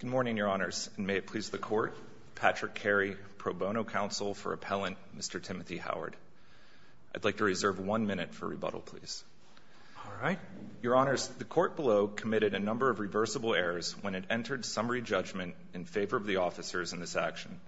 Good morning, Your Honors, and may it please the Court, Patrick Carey, Pro Bono Counsel for Appellant Mr. Timothy Howard. I'd like to reserve one minute for rebuttal, please. All right. Your Honors, the Court below committed a number of reversible errors when it entered summary judgment in favor of the officers in this action.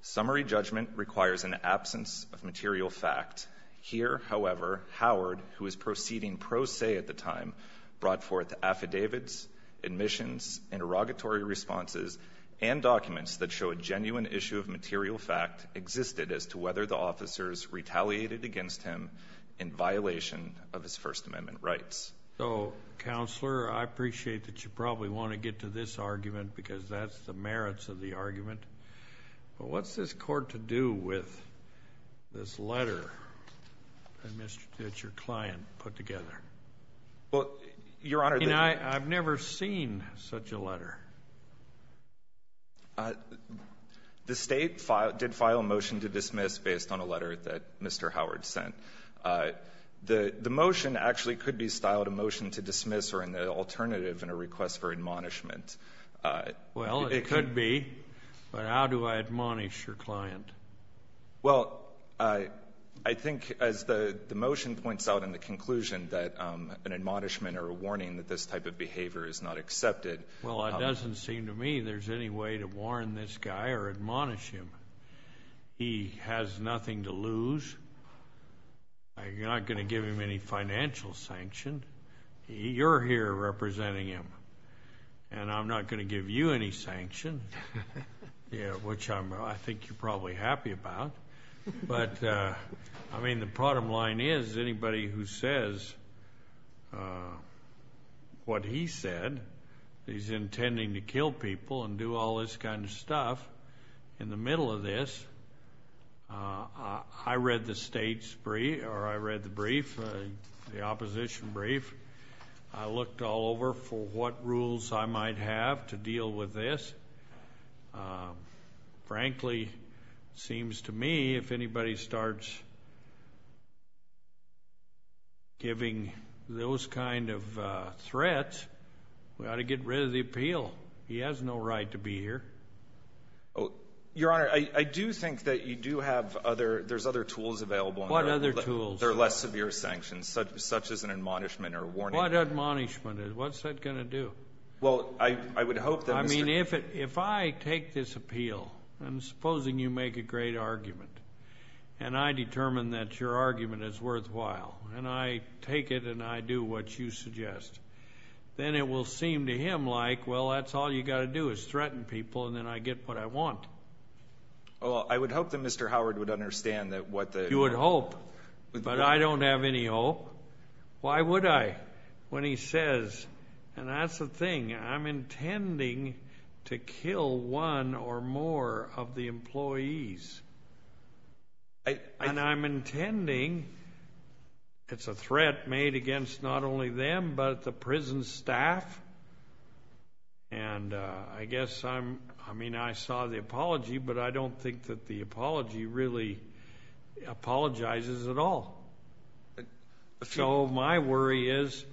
Summary judgment requires an absence of material fact. Here, however, Howard, who was proceeding pro se at the time, brought forth affidavits, admissions, interrogatory responses, and documents that show a genuine issue of material fact existed as to whether the officers retaliated against him in violation of his First Amendment rights. So, Counselor, I appreciate that you probably want to get to this argument because that's the merits of the argument, but what's this Court to do with this letter that your client put together? Well, Your Honor, I've never seen such a letter. The State did file a motion to dismiss based on a letter that Mr. Howard sent. The motion actually could be styled a motion to dismiss or an alternative in a request for admonishment. Well, it could be, but how do I admonish your client? Well, I think as the motion points out in the conclusion that an admonishment or a warning that this type of behavior is not accepted. Well, it doesn't seem to me there's any way to warn this guy or admonish him. He has nothing to lose. You're not going to give him any financial sanction. You're here representing him, and I'm not going to give you any sanction, which I think you're probably happy about. But I mean, the bottom line is anybody who says what he said, he's intending to kill people and do all this kind of stuff in the middle of this. I read the State's brief or I read the brief, the opposition brief. I looked all over for what rules I might have to deal with this. Frankly, it seems to me if anybody starts giving those kind of threats, we ought to get rid of the appeal. He has no right to be here. Your Honor, I do think that you do have other, there's other tools available. What other tools? There are less severe sanctions, such as an admonishment or a warning. What admonishment? What's that going to do? Well, I would hope that Mr. I mean, if I take this appeal, and supposing you make a great argument, and I determine that your argument is worthwhile, and I take it and I do what you suggest, then it will seem to him like, well, that's all you got to do is threaten people, and then I get what I want. Well, I would hope that Mr. Howard would understand that what the You would hope, but I don't have any hope. Why would I? When he says, and that's the thing, I'm intending to kill one or more of the employees, and I'm intending, it's a threat made against not only them, but the prison staff, and I guess I'm, I mean, I saw the apology really apologizes at all, so my worry is,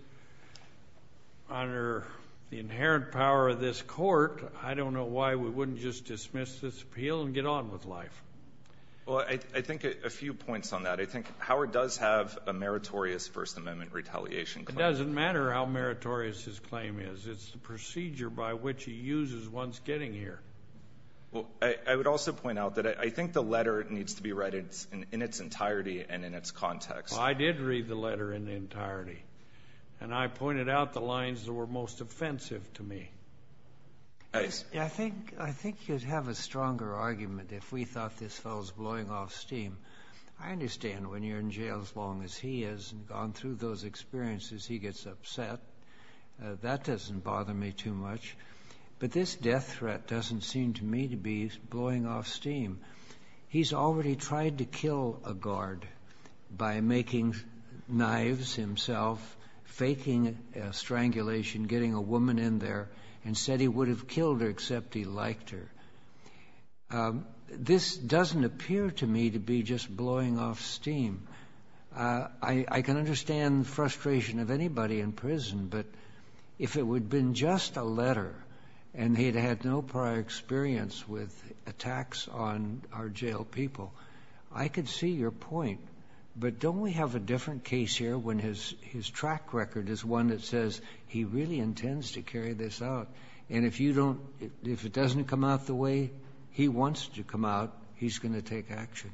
under the inherent power of this court, I don't know why we wouldn't just dismiss this appeal and get on with life. Well, I think a few points on that. I think Howard does have a meritorious First Amendment retaliation claim. It doesn't matter how meritorious his claim is. It's the procedure by which he uses one's getting here. Well, I would also point out that I think the letter needs to be read in its entirety and in its context. Well, I did read the letter in entirety, and I pointed out the lines that were most offensive to me. I think you'd have a stronger argument if we thought this fellow's blowing off steam. I understand when you're in jail as long as he is and gone through those experiences, he gets upset. That doesn't bother me too much, but this death threat doesn't seem to me to be blowing off steam. He's already tried to kill a guard by making knives himself, faking a strangulation, getting a woman in there, and said he would have killed her except he liked her. This doesn't appear to me to be just blowing off steam. I can understand the frustration of anybody in prison, but if it would have been just a letter and he'd had no prior experience with attacks on our jail people, I could see your point. But don't we have a different case here when his track record is one that says he really intends to carry this out, and if you don't, if it doesn't come out the way he wants to come out, he's going to take action?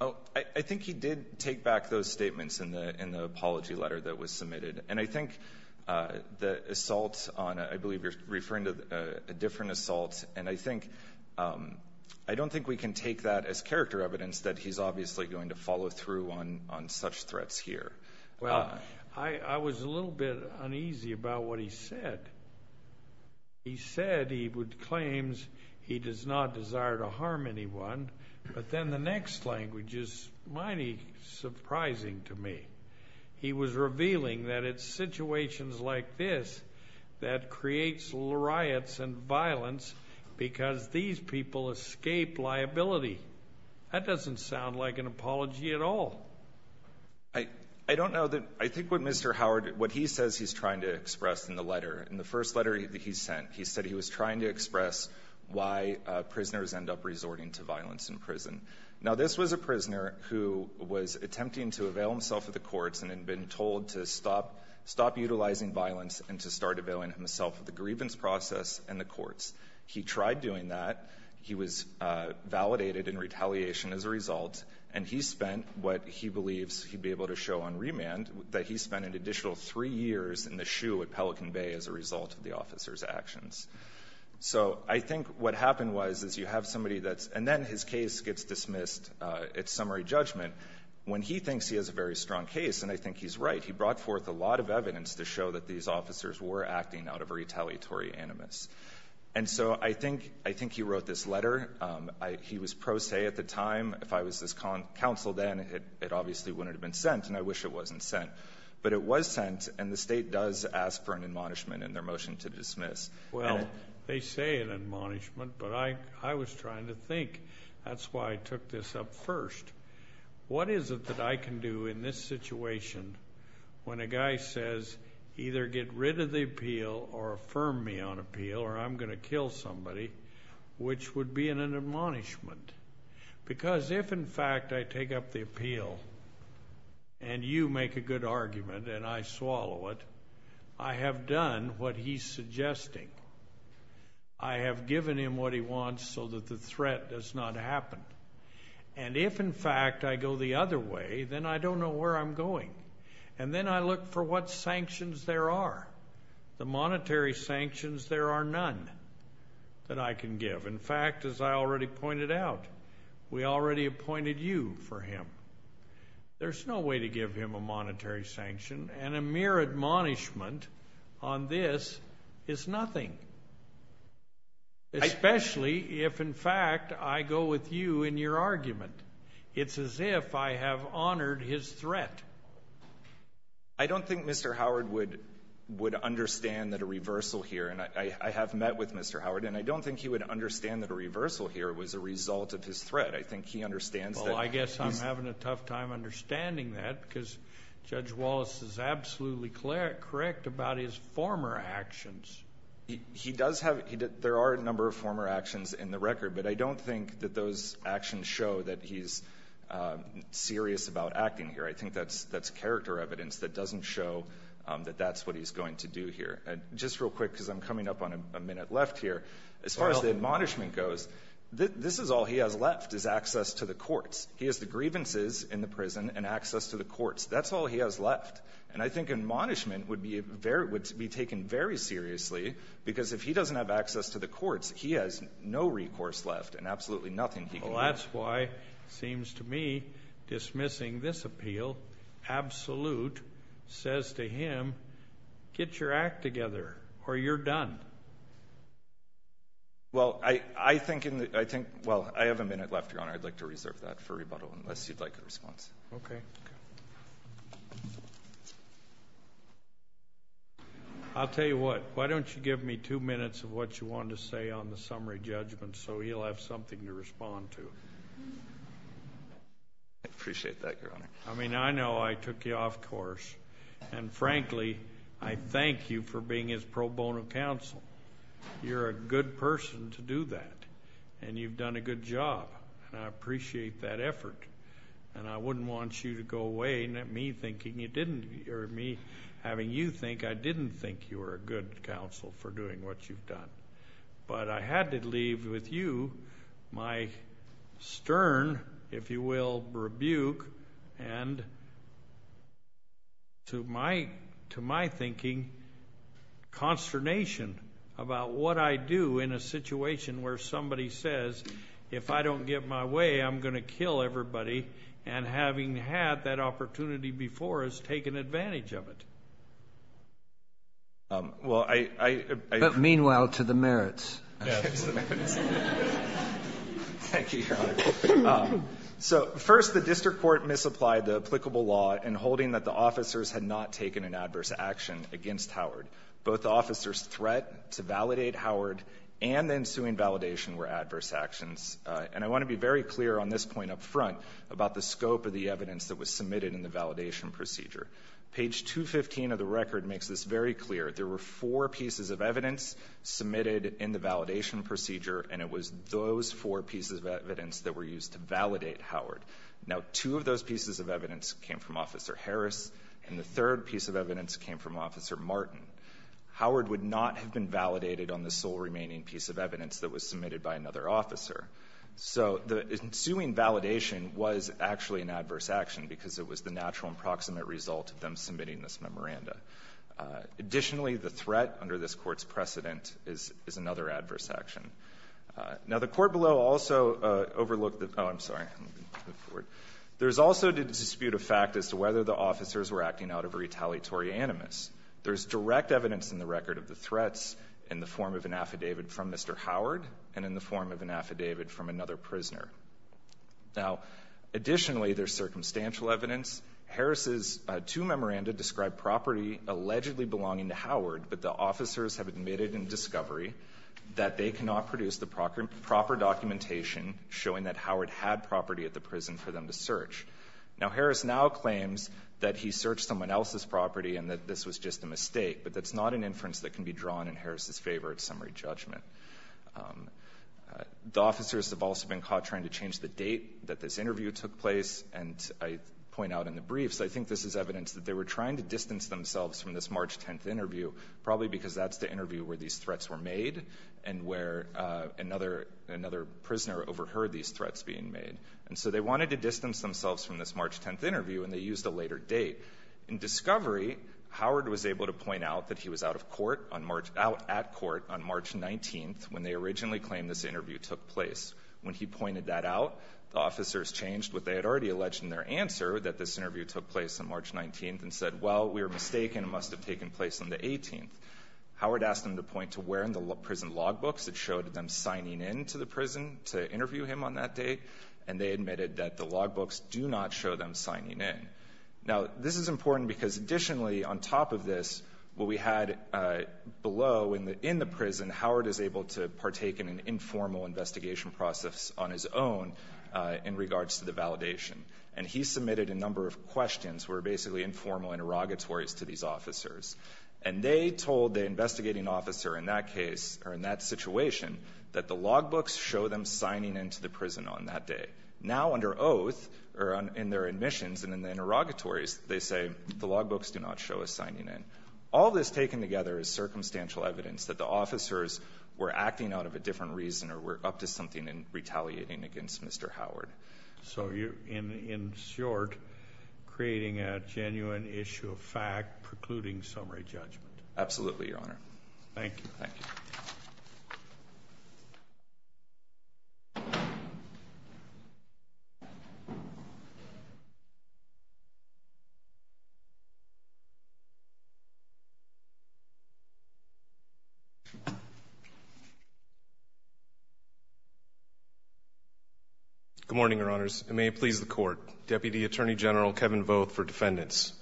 I think he did take back those statements in the apology letter that was submitted. And I think the assault on, I believe you're referring to a different assault, and I think, I don't think we can take that as character evidence that he's obviously going to follow through on such threats here. Well, I was a little bit uneasy about what he said. He said he would claim he does not desire to harm anyone, but then the next language is mighty surprising to me. He was revealing that it's situations like this that creates riots and violence because these people escape liability. That doesn't sound like an apology at all. I don't know that, I think what Mr. Howard, what he says he's trying to express in the first letter that he sent, he said he was trying to express why prisoners end up resorting to violence in prison. Now this was a prisoner who was attempting to avail himself of the courts and had been told to stop utilizing violence and to start availing himself of the grievance process and the courts. He tried doing that. He was validated in retaliation as a result, and he spent what he believes he'd be able to show on remand, that he spent an additional three years in the shoe at Pelican Bay as a result of the officer's actions. So I think what happened was, is you have somebody that's, and then his case gets dismissed, it's summary judgment, when he thinks he has a very strong case, and I think he's right. He brought forth a lot of evidence to show that these officers were acting out of retaliatory animus. And so I think he wrote this letter. He was pro se at the time. If I was his counsel then, it obviously wouldn't have been sent, and I wish it wasn't sent. But it was sent, and the state does ask for an admonishment in their motion to dismiss. Well, they say an admonishment, but I was trying to think. That's why I took this up first. What is it that I can do in this situation when a guy says, either get rid of the appeal or affirm me on appeal, or I'm going to kill somebody, which would be an admonishment? Because if in fact I take up the appeal, and you make a good argument, and I swallow it, I have done what he's suggesting. I have given him what he wants so that the threat does not happen. And if in fact I go the other way, then I don't know where I'm going. And then I look for what sanctions there are. The monetary sanctions, there are none that I can give. In fact, as I already pointed out, we already appointed you for him. There's no way to give him a monetary sanction, and a mere admonishment on this is nothing. Especially if in fact I go with you in your argument. It's as if I have honored his threat. I don't think Mr. Howard would understand that a reversal here, and I have met with Mr. Howard, and I don't think he would understand that a reversal here was a result of his threat. I think he understands that he's... Well, I guess I'm having a tough time understanding that, because Judge Wallace is absolutely correct about his former actions. He does have... there are a number of former actions in the record, but I don't think that those actions show that he's serious about acting here. I think that's character evidence that doesn't show that that's what he's going to do here. Just real quick, because I'm coming up on a minute left here. As far as the admonishment goes, this is all he has left, is access to the courts. He has the grievances in the prison, and access to the courts. That's all he has left. And I think admonishment would be taken very seriously, because if he doesn't have access to the courts, he has no recourse left, and absolutely nothing he can do. Well, that's why, it seems to me, dismissing this appeal, absolute says to him, get your act together, or you're done. Well, I think in the... I think... well, I have a minute left, Your Honor. I'd like to reserve that for rebuttal, unless you'd like a response. Okay. I'll tell you what. Why don't you give me two minutes of what you want to say on the summary judgment, so he'll have something to respond to. I appreciate that, Your Honor. I mean, I know I took you off course, and frankly, I thank you for being his pro bono counsel. You're a good person to do that, and you've done a good job, and I appreciate that effort. And I wouldn't want you to go away, and me thinking you didn't, or me having you think, I didn't think you were a good counsel for doing what you've done. But I had to leave with you my stern, if you will, rebuke, and to my thinking, consternation about what I do in a situation where somebody says, if I don't get my way, I'm going to kill everybody, and having had that opportunity before, has taken advantage of it. But meanwhile, to the merits. Thank you, Your Honor. So first, the district court misapplied the applicable law in holding that the officers had not taken an adverse action against Howard. Both the officers' threat to validate Howard and the ensuing validation were adverse actions. And I want to be very clear on this point up front about the scope of the evidence that was submitted in the validation procedure. Page 215 of the record makes this very clear. There were four pieces of evidence submitted in the validation procedure, and it was those four pieces of evidence that were used to validate Howard. Now, two of those pieces of evidence came from Officer Harris, and the third piece of evidence came from Officer Martin. Howard would not have been validated on the sole remaining piece of evidence that was submitted by another officer. So the ensuing validation was actually an adverse action, because it was the natural and proximate result of them submitting this memoranda. Additionally, the threat under this court's precedent is another adverse action. Now, the court below also overlooked the, I'm sorry, move forward. There's also the dispute of fact as to whether the officers were acting out of retaliatory animus. There's direct evidence in the record of the threats in the form of an affidavit from Mr. Howard, and in the form of an affidavit from another prisoner. Now, additionally, there's circumstantial evidence. Harris's two memoranda describe property allegedly belonging to Howard, but the officers have admitted in discovery that they cannot produce the proper documentation showing that Howard had property at the prison for them to search. Now, Harris now claims that he searched someone else's property and that this was just a mistake, but that's not an inference that can be drawn in Harris's favor at summary judgment. The officers have also been caught trying to change the date that this interview took place, and I point out in the briefs, I think this is evidence that they were trying to distance themselves from this March 10th interview, probably because that's the interview where these threats were made, and where another prisoner overheard these threats being made. And so they wanted to distance themselves from this March 10th interview, and they used a later date. In discovery, Howard was able to point out that he was out of court on March, out at court on March 19th, when they originally claimed this interview took place. When he pointed that out, the officers changed what they had already alleged in their answer, that this interview took place on March 19th, and said, well, we were mistaken, it must have taken place on the 18th. Howard asked them to point to where in the prison log books that showed them signing in to the prison to interview him on that date. And they admitted that the log books do not show them signing in. Now, this is important because additionally, on top of this, what we had below in the prison, Howard is able to partake in an informal investigation process on his own in regards to the validation. And he submitted a number of questions, were basically informal interrogatories to these officers. And they told the investigating officer in that case, or in that situation, that the log books show them signing into the prison on that day. Now, under oath, or in their admissions and in the interrogatories, they say, the log books do not show us signing in. All this taken together is circumstantial evidence that the officers were acting out of a different reason or were up to something in retaliating against Mr. Howard. So, in short, creating a genuine issue of fact, precluding summary judgment. Absolutely, Your Honor. Thank you. Thank you. Good morning, Your Honors. And may it please the court, Deputy Attorney General Kevin Voth for defendants.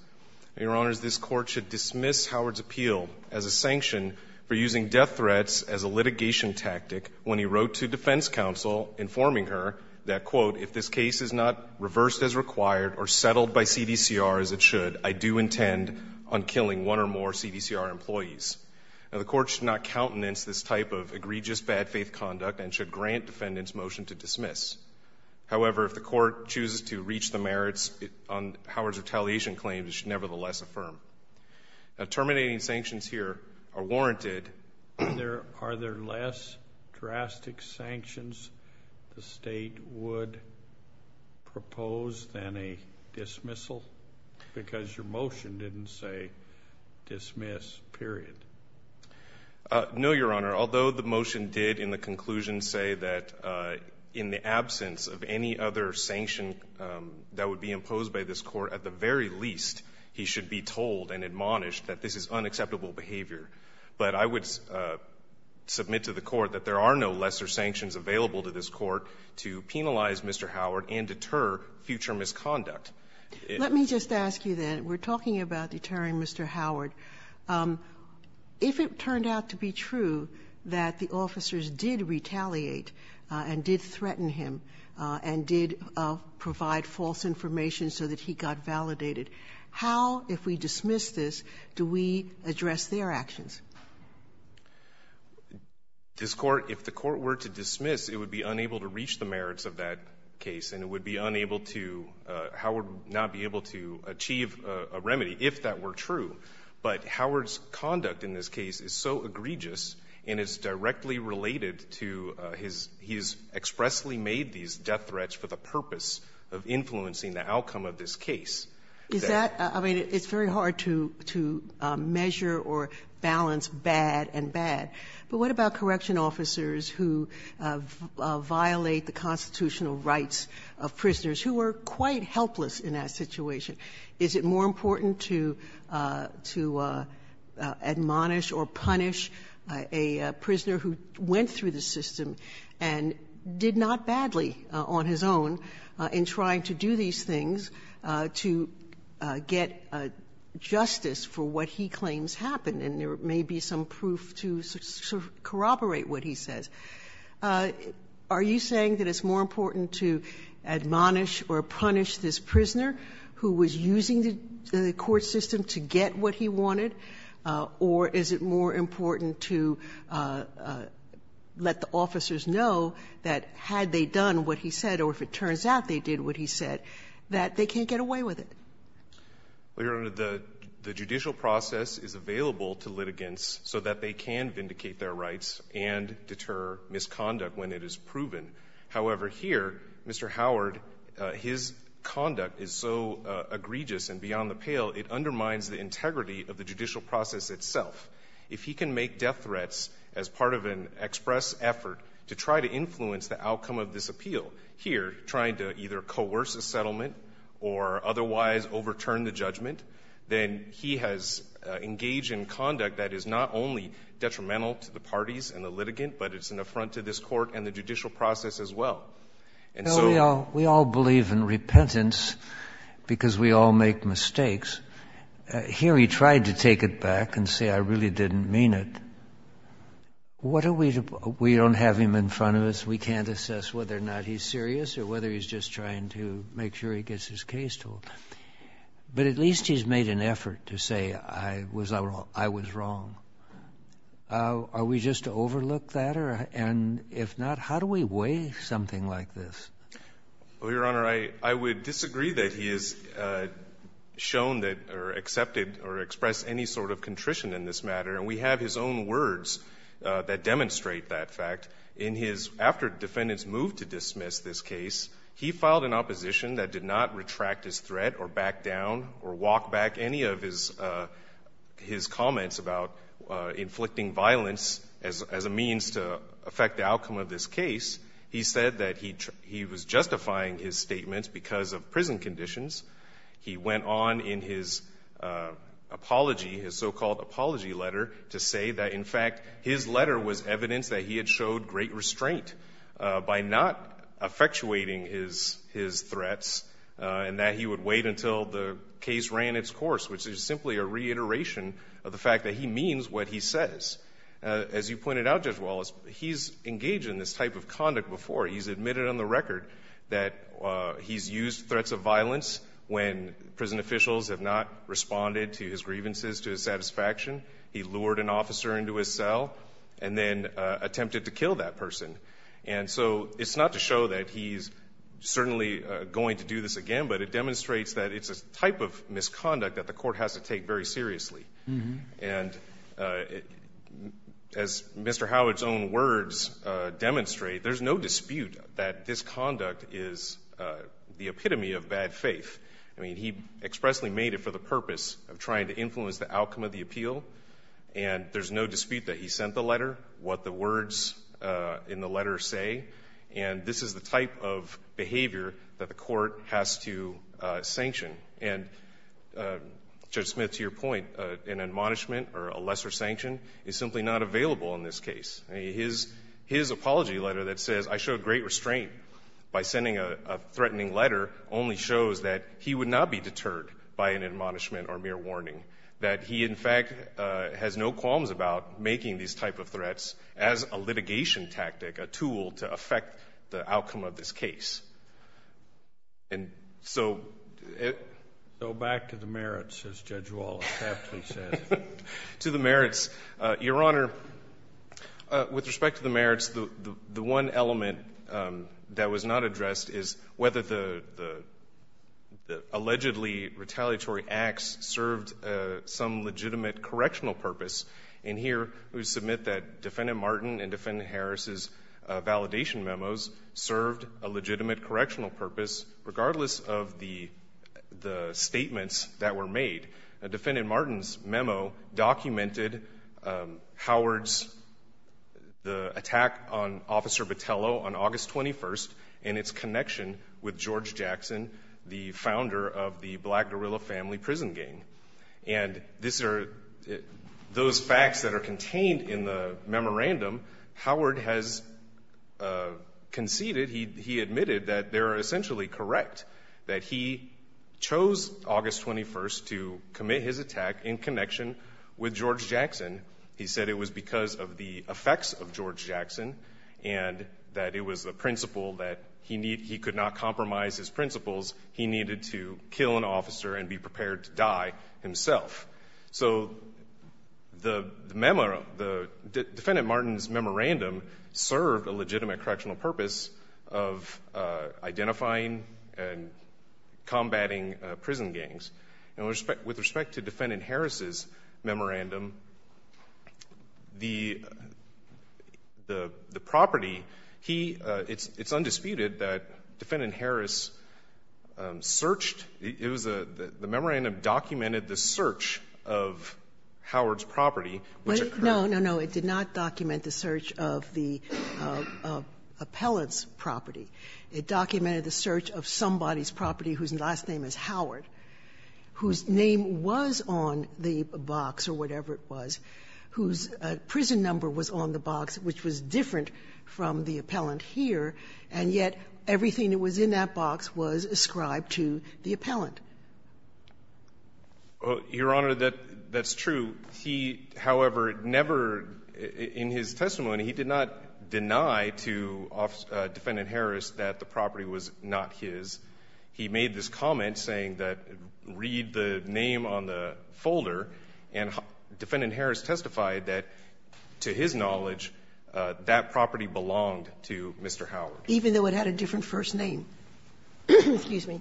Your Honors, this court should dismiss Howard's appeal as a sanction for using death threats as a litigation tactic when he wrote to defense counsel, informing her that, quote, if this case is not reversed as required or settled by CDCR as it should, I do intend on killing one or more CDCR employees. Now, the court should not countenance this type of egregious bad faith conduct and should grant defendants motion to dismiss. However, if the court chooses to reach the merits on Howard's retaliation claims, it should nevertheless affirm. Terminating sanctions here are warranted. Are there less drastic sanctions the state would propose than a dismissal? Because your motion didn't say dismiss, period. No, Your Honor. Although the motion did in the conclusion say that in the absence of any other sanction that would be imposed by this court, at the very least, he should be told and admonished that this is unacceptable behavior. But I would submit to the court that there are no lesser sanctions available to this court to penalize Mr. Howard and deter future misconduct. Let me just ask you then, we're talking about deterring Mr. Howard. If it turned out to be true that the officers did retaliate and did threaten him and did provide false information so that he got validated. How, if we dismiss this, do we address their actions? This court, if the court were to dismiss, it would be unable to reach the merits of that case. And it would be unable to, Howard would not be able to achieve a remedy if that were true. But Howard's conduct in this case is so egregious and is directly related to his, he's expressly made these death threats for the purpose of influencing the outcome of this case. Is that, I mean, it's very hard to measure or balance bad and bad. But what about correction officers who violate the constitutional rights of prisoners who are quite helpless in that situation? Is it more important to admonish or punish this prisoner who was using the court system to get what he wanted? Or is it more important to let the officers know that they were using the court system to get what they wanted? And there may be some proof to corroborate what he says. Are you saying that it's more important to admonish or punish this prisoner who was using the court system to get what he wanted? Or is it more important to let the officers know that had they done what he said, or if it turns out they did what he said, that they can't get away with it? Well, Your Honor, the judicial process is available to litigants so that they can vindicate their rights and deter misconduct when it is proven. However, here, Mr. Howard, his conduct is so egregious and beyond the pale, it undermines the integrity of the judicial process itself. If he can make death threats as part of an express effort to try to influence the outcome of this appeal, here, trying to either coerce a settlement or otherwise overturn the judgment, then he has engaged in conduct that is not only detrimental to the parties and the litigant, but it's an affront to this court and the judicial process as well. And so- We all believe in repentance because we all make mistakes. Here, he tried to take it back and say, I really didn't mean it. What are we to, we don't have him in front of us. We can't assess whether or not he's serious or whether he's just trying to make sure he gets his case told. But at least he's made an effort to say, I was wrong. Are we just to overlook that? And if not, how do we weigh something like this? Well, Your Honor, I would disagree that he has shown that or accepted or expressed any sort of contrition in this matter. And we have his own words that demonstrate that fact. In his, after defendants moved to dismiss this case, he filed an opposition that did not retract his threat or back down or walk back any of his comments about inflicting violence as a means to affect the outcome of this case. He said that he was justifying his statements because of prison conditions. He went on in his apology, his so-called apology letter, to say that in fact his letter was evidence that he had showed great restraint by not effectuating his threats and that he would wait until the case ran its course. Which is simply a reiteration of the fact that he means what he says. As you pointed out, Judge Wallace, he's engaged in this type of conduct before. He's admitted on the record that he's used threats of violence when prison officials have not responded to his grievances, to his satisfaction. He lured an officer into his cell and then attempted to kill that person. And so it's not to show that he's certainly going to do this again, but it demonstrates that it's a type of misconduct that the court has to take very seriously. And as Mr. Howard's own words demonstrate, there's no dispute that this conduct is the epitome of bad faith. I mean, he expressly made it for the purpose of trying to influence the outcome of the appeal. And there's no dispute that he sent the letter, what the words in the letter say. And this is the type of behavior that the court has to sanction. And Judge Smith, to your point, an admonishment or a lesser sanction is simply not available in this case. His apology letter that says I showed great restraint by sending a threatening letter only shows that he would not be deterred by an admonishment or mere warning. That he in fact has no qualms about making these type of threats as a litigation tactic, a tool to affect the outcome of this case. And so- Go back to the merits, as Judge Wallace aptly said. To the merits. Your Honor, with respect to the merits, the one element that was not addressed is whether the allegedly retaliatory acts served some legitimate correctional purpose. In here, we submit that Defendant Martin and Defendant Harris's validation memos served a legitimate correctional purpose. Regardless of the statements that were made, Defendant Martin's memo documented Howard's, the attack on Officer Botello on August 21st, and its connection with George Jackson, the founder of the Black Guerrilla Family Prison Gang. And those facts that are contained in the memorandum, Howard has conceded, he admitted that they're essentially correct. That he chose August 21st to commit his attack in connection with George Jackson. He said it was because of the effects of George Jackson and that it was the principle that he could not compromise his principles. He needed to kill an officer and be prepared to die himself. So the memo, the, Defendant Martin's memorandum served a legitimate correctional purpose of identifying and combating prison gangs. And with respect to Defendant Harris's memorandum, the property, he, it's undisputed that Defendant Harris searched, it was a, the memorandum documented the search of Howard's property, which occurred. No, no, no, it did not document the search of the appellant's property. It documented the search of somebody's property whose last name is Howard, whose name was on the box, or whatever it was, whose prison number was on the box, which was different from the appellant here. And yet, everything that was in that box was ascribed to the appellant. Your Honor, that's true. He, however, never, in his testimony, he did not deny to Defendant Harris that the property was not his. He made this comment saying that, read the name on the folder. And Defendant Harris testified that, to his knowledge, that property belonged to Mr. Howard. Even though it had a different first name, excuse me,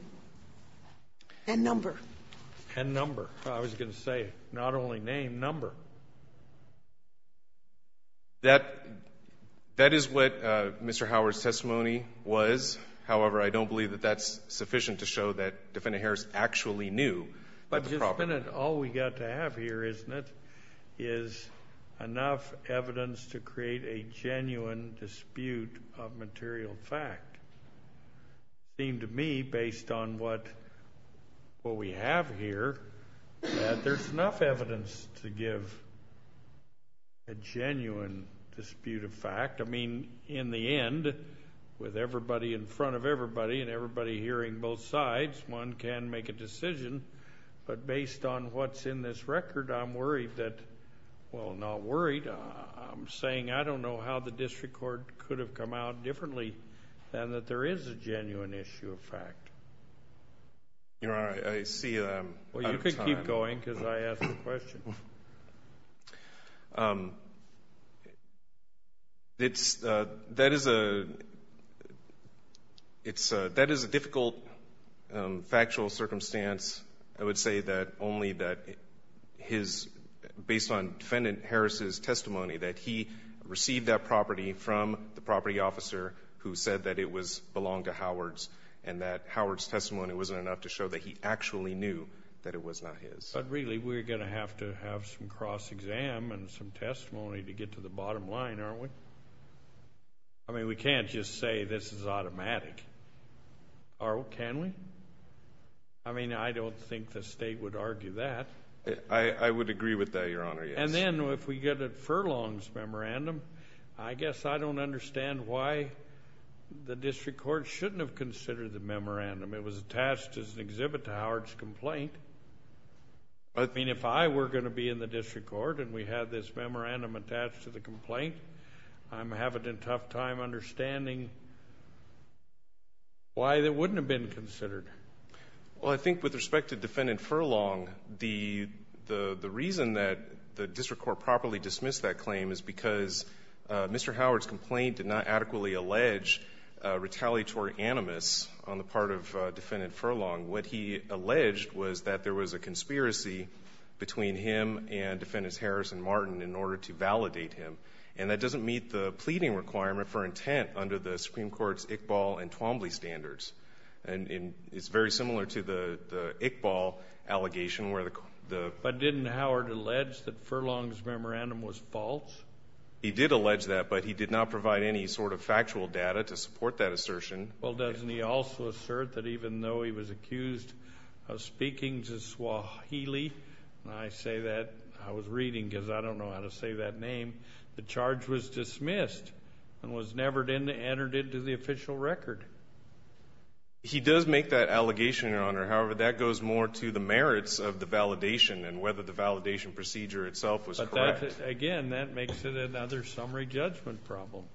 and number. And number, I was going to say, not only name, number. That, that is what Mr. Howard's testimony was. However, I don't believe that that's sufficient to show that Defendant Harris actually knew about the property. Just a minute. All we got to have here, isn't it, is enough evidence to create a genuine dispute of material fact. Seemed to me, based on what, what we have here, that there's enough evidence to give a genuine dispute of fact. I mean, in the end, with everybody in front of everybody, and everybody hearing both sides, one can make a decision. But based on what's in this record, I'm worried that, well, not worried. I'm saying I don't know how the district court could have come out differently than that there is a genuine issue of fact. Your Honor, I see that I'm out of time. Well, you can keep going, because I asked the question. It's, that is a, it's a, that is a difficult factual circumstance. I would say that only that his, based on Defendant Harris' testimony, that he received that property from the property officer who said that it was, belonged to Howard's. And that Howard's testimony wasn't enough to show that he actually knew that it was not his. But really, we're going to have to have some cross-exam and some testimony to get to the bottom line, aren't we? I mean, we can't just say this is automatic, or can we? I mean, I don't think the state would argue that. I, I would agree with that, Your Honor, yes. And then, if we get a furlong's memorandum, I guess I don't understand why the district court shouldn't have considered the memorandum. It was attached as an exhibit to Howard's complaint. I mean, if I were going to be in the district court, and we had this memorandum attached to the complaint, I'm having a tough time understanding why that wouldn't have been considered. Well, I think with respect to Defendant Furlong, the, the, the reason that the district court properly dismissed that claim is because Mr. Howard's complaint did not adequately allege retaliatory animus on the part of Defendant Furlong. What he alleged was that there was a conspiracy between him and Defendant Harris and Martin in order to validate him. And that doesn't meet the pleading requirement for intent under the Supreme Court's Iqbal and Twombly standards. And in, it's very similar to the, the Iqbal allegation, where the, the. But didn't Howard allege that Furlong's memorandum was false? He did allege that, but he did not provide any sort of factual data to support that assertion. Well, doesn't he also assert that even though he was accused of speaking to Swahili, and I say that, I was reading because I don't know how to say that name, the charge was dismissed and was never entered into the official record? He does make that allegation, Your Honor. However, that goes more to the merits of the validation and whether the validation procedure itself was correct. But that, again, that makes it another summary judgment problem.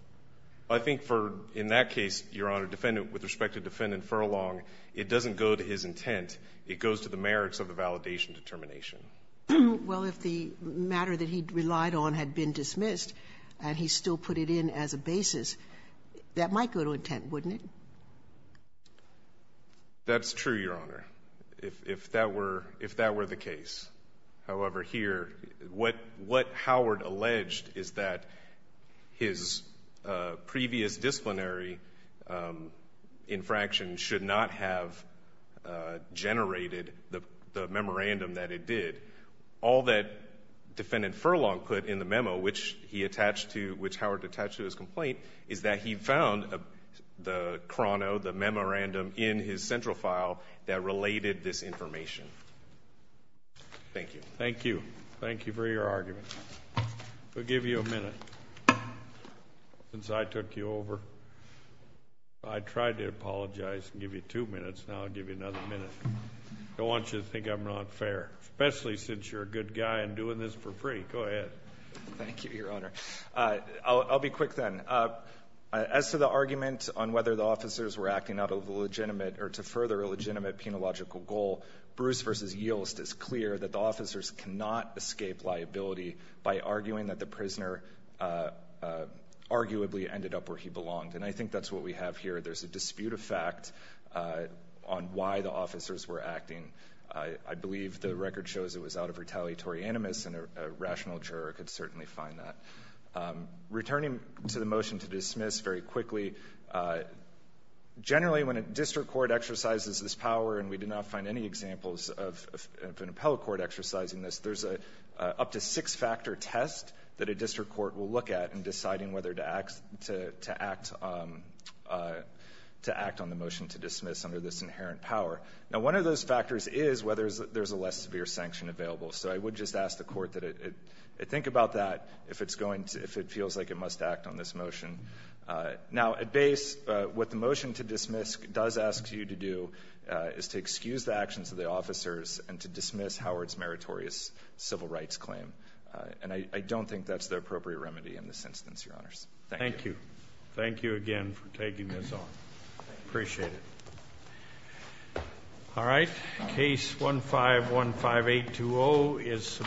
I think for, in that case, Your Honor, defendant, with respect to Defendant Furlong, it doesn't go to his intent, it goes to the merits of the validation determination. Well, if the matter that he relied on had been dismissed, and he still put it in as a basis, that might go to intent, wouldn't it? That's true, Your Honor, if, if that were, if that were the case. However, here, what, what Howard alleged is that his previous disciplinary infraction should not have generated the, the memorandum that it did. All that defendant Furlong put in the memo, which he attached to, which Howard attached to his complaint, is that he found the chrono, the memorandum in his central file that related this information. Thank you. Thank you. Thank you for your argument. We'll give you a minute. Since I took you over, I tried to apologize and give you two minutes, now I'll give you another minute. I don't want you to think I'm not fair, especially since you're a good guy and doing this for free. Go ahead. Thank you, Your Honor. I'll, I'll be quick then. As to the argument on whether the officers were acting out of a legitimate, or to further a legitimate, penological goal, Bruce versus Yilst is clear that the officers cannot escape liability by arguing that the prisoner arguably ended up where he belonged. And I think that's what we have here. There's a dispute of fact on why the officers were acting. I, I believe the record shows it was out of retaliatory animus, and a, a rational juror could certainly find that. Returning to the motion to dismiss very quickly. Generally, when a district court exercises this power, and we did not find any examples of, of an appellate court exercising this, there's a up to six factor test that a district court will look at in deciding whether to act, to, to act to act on the motion to dismiss under this inherent power. Now one of those factors is whether there's a less severe sanction available. So I would just ask the court that it, it think about that if it's going to, if it feels like it must act on this motion. Now at base what the motion to dismiss does ask you to do is to excuse the actions of the officers and to dismiss Howard's meritorious civil rights claim. And I, I don't think that's the appropriate remedy in this instance, your honors. Thank you. Thank you again for taking this on. Appreciate it. All right. Case 1515820 is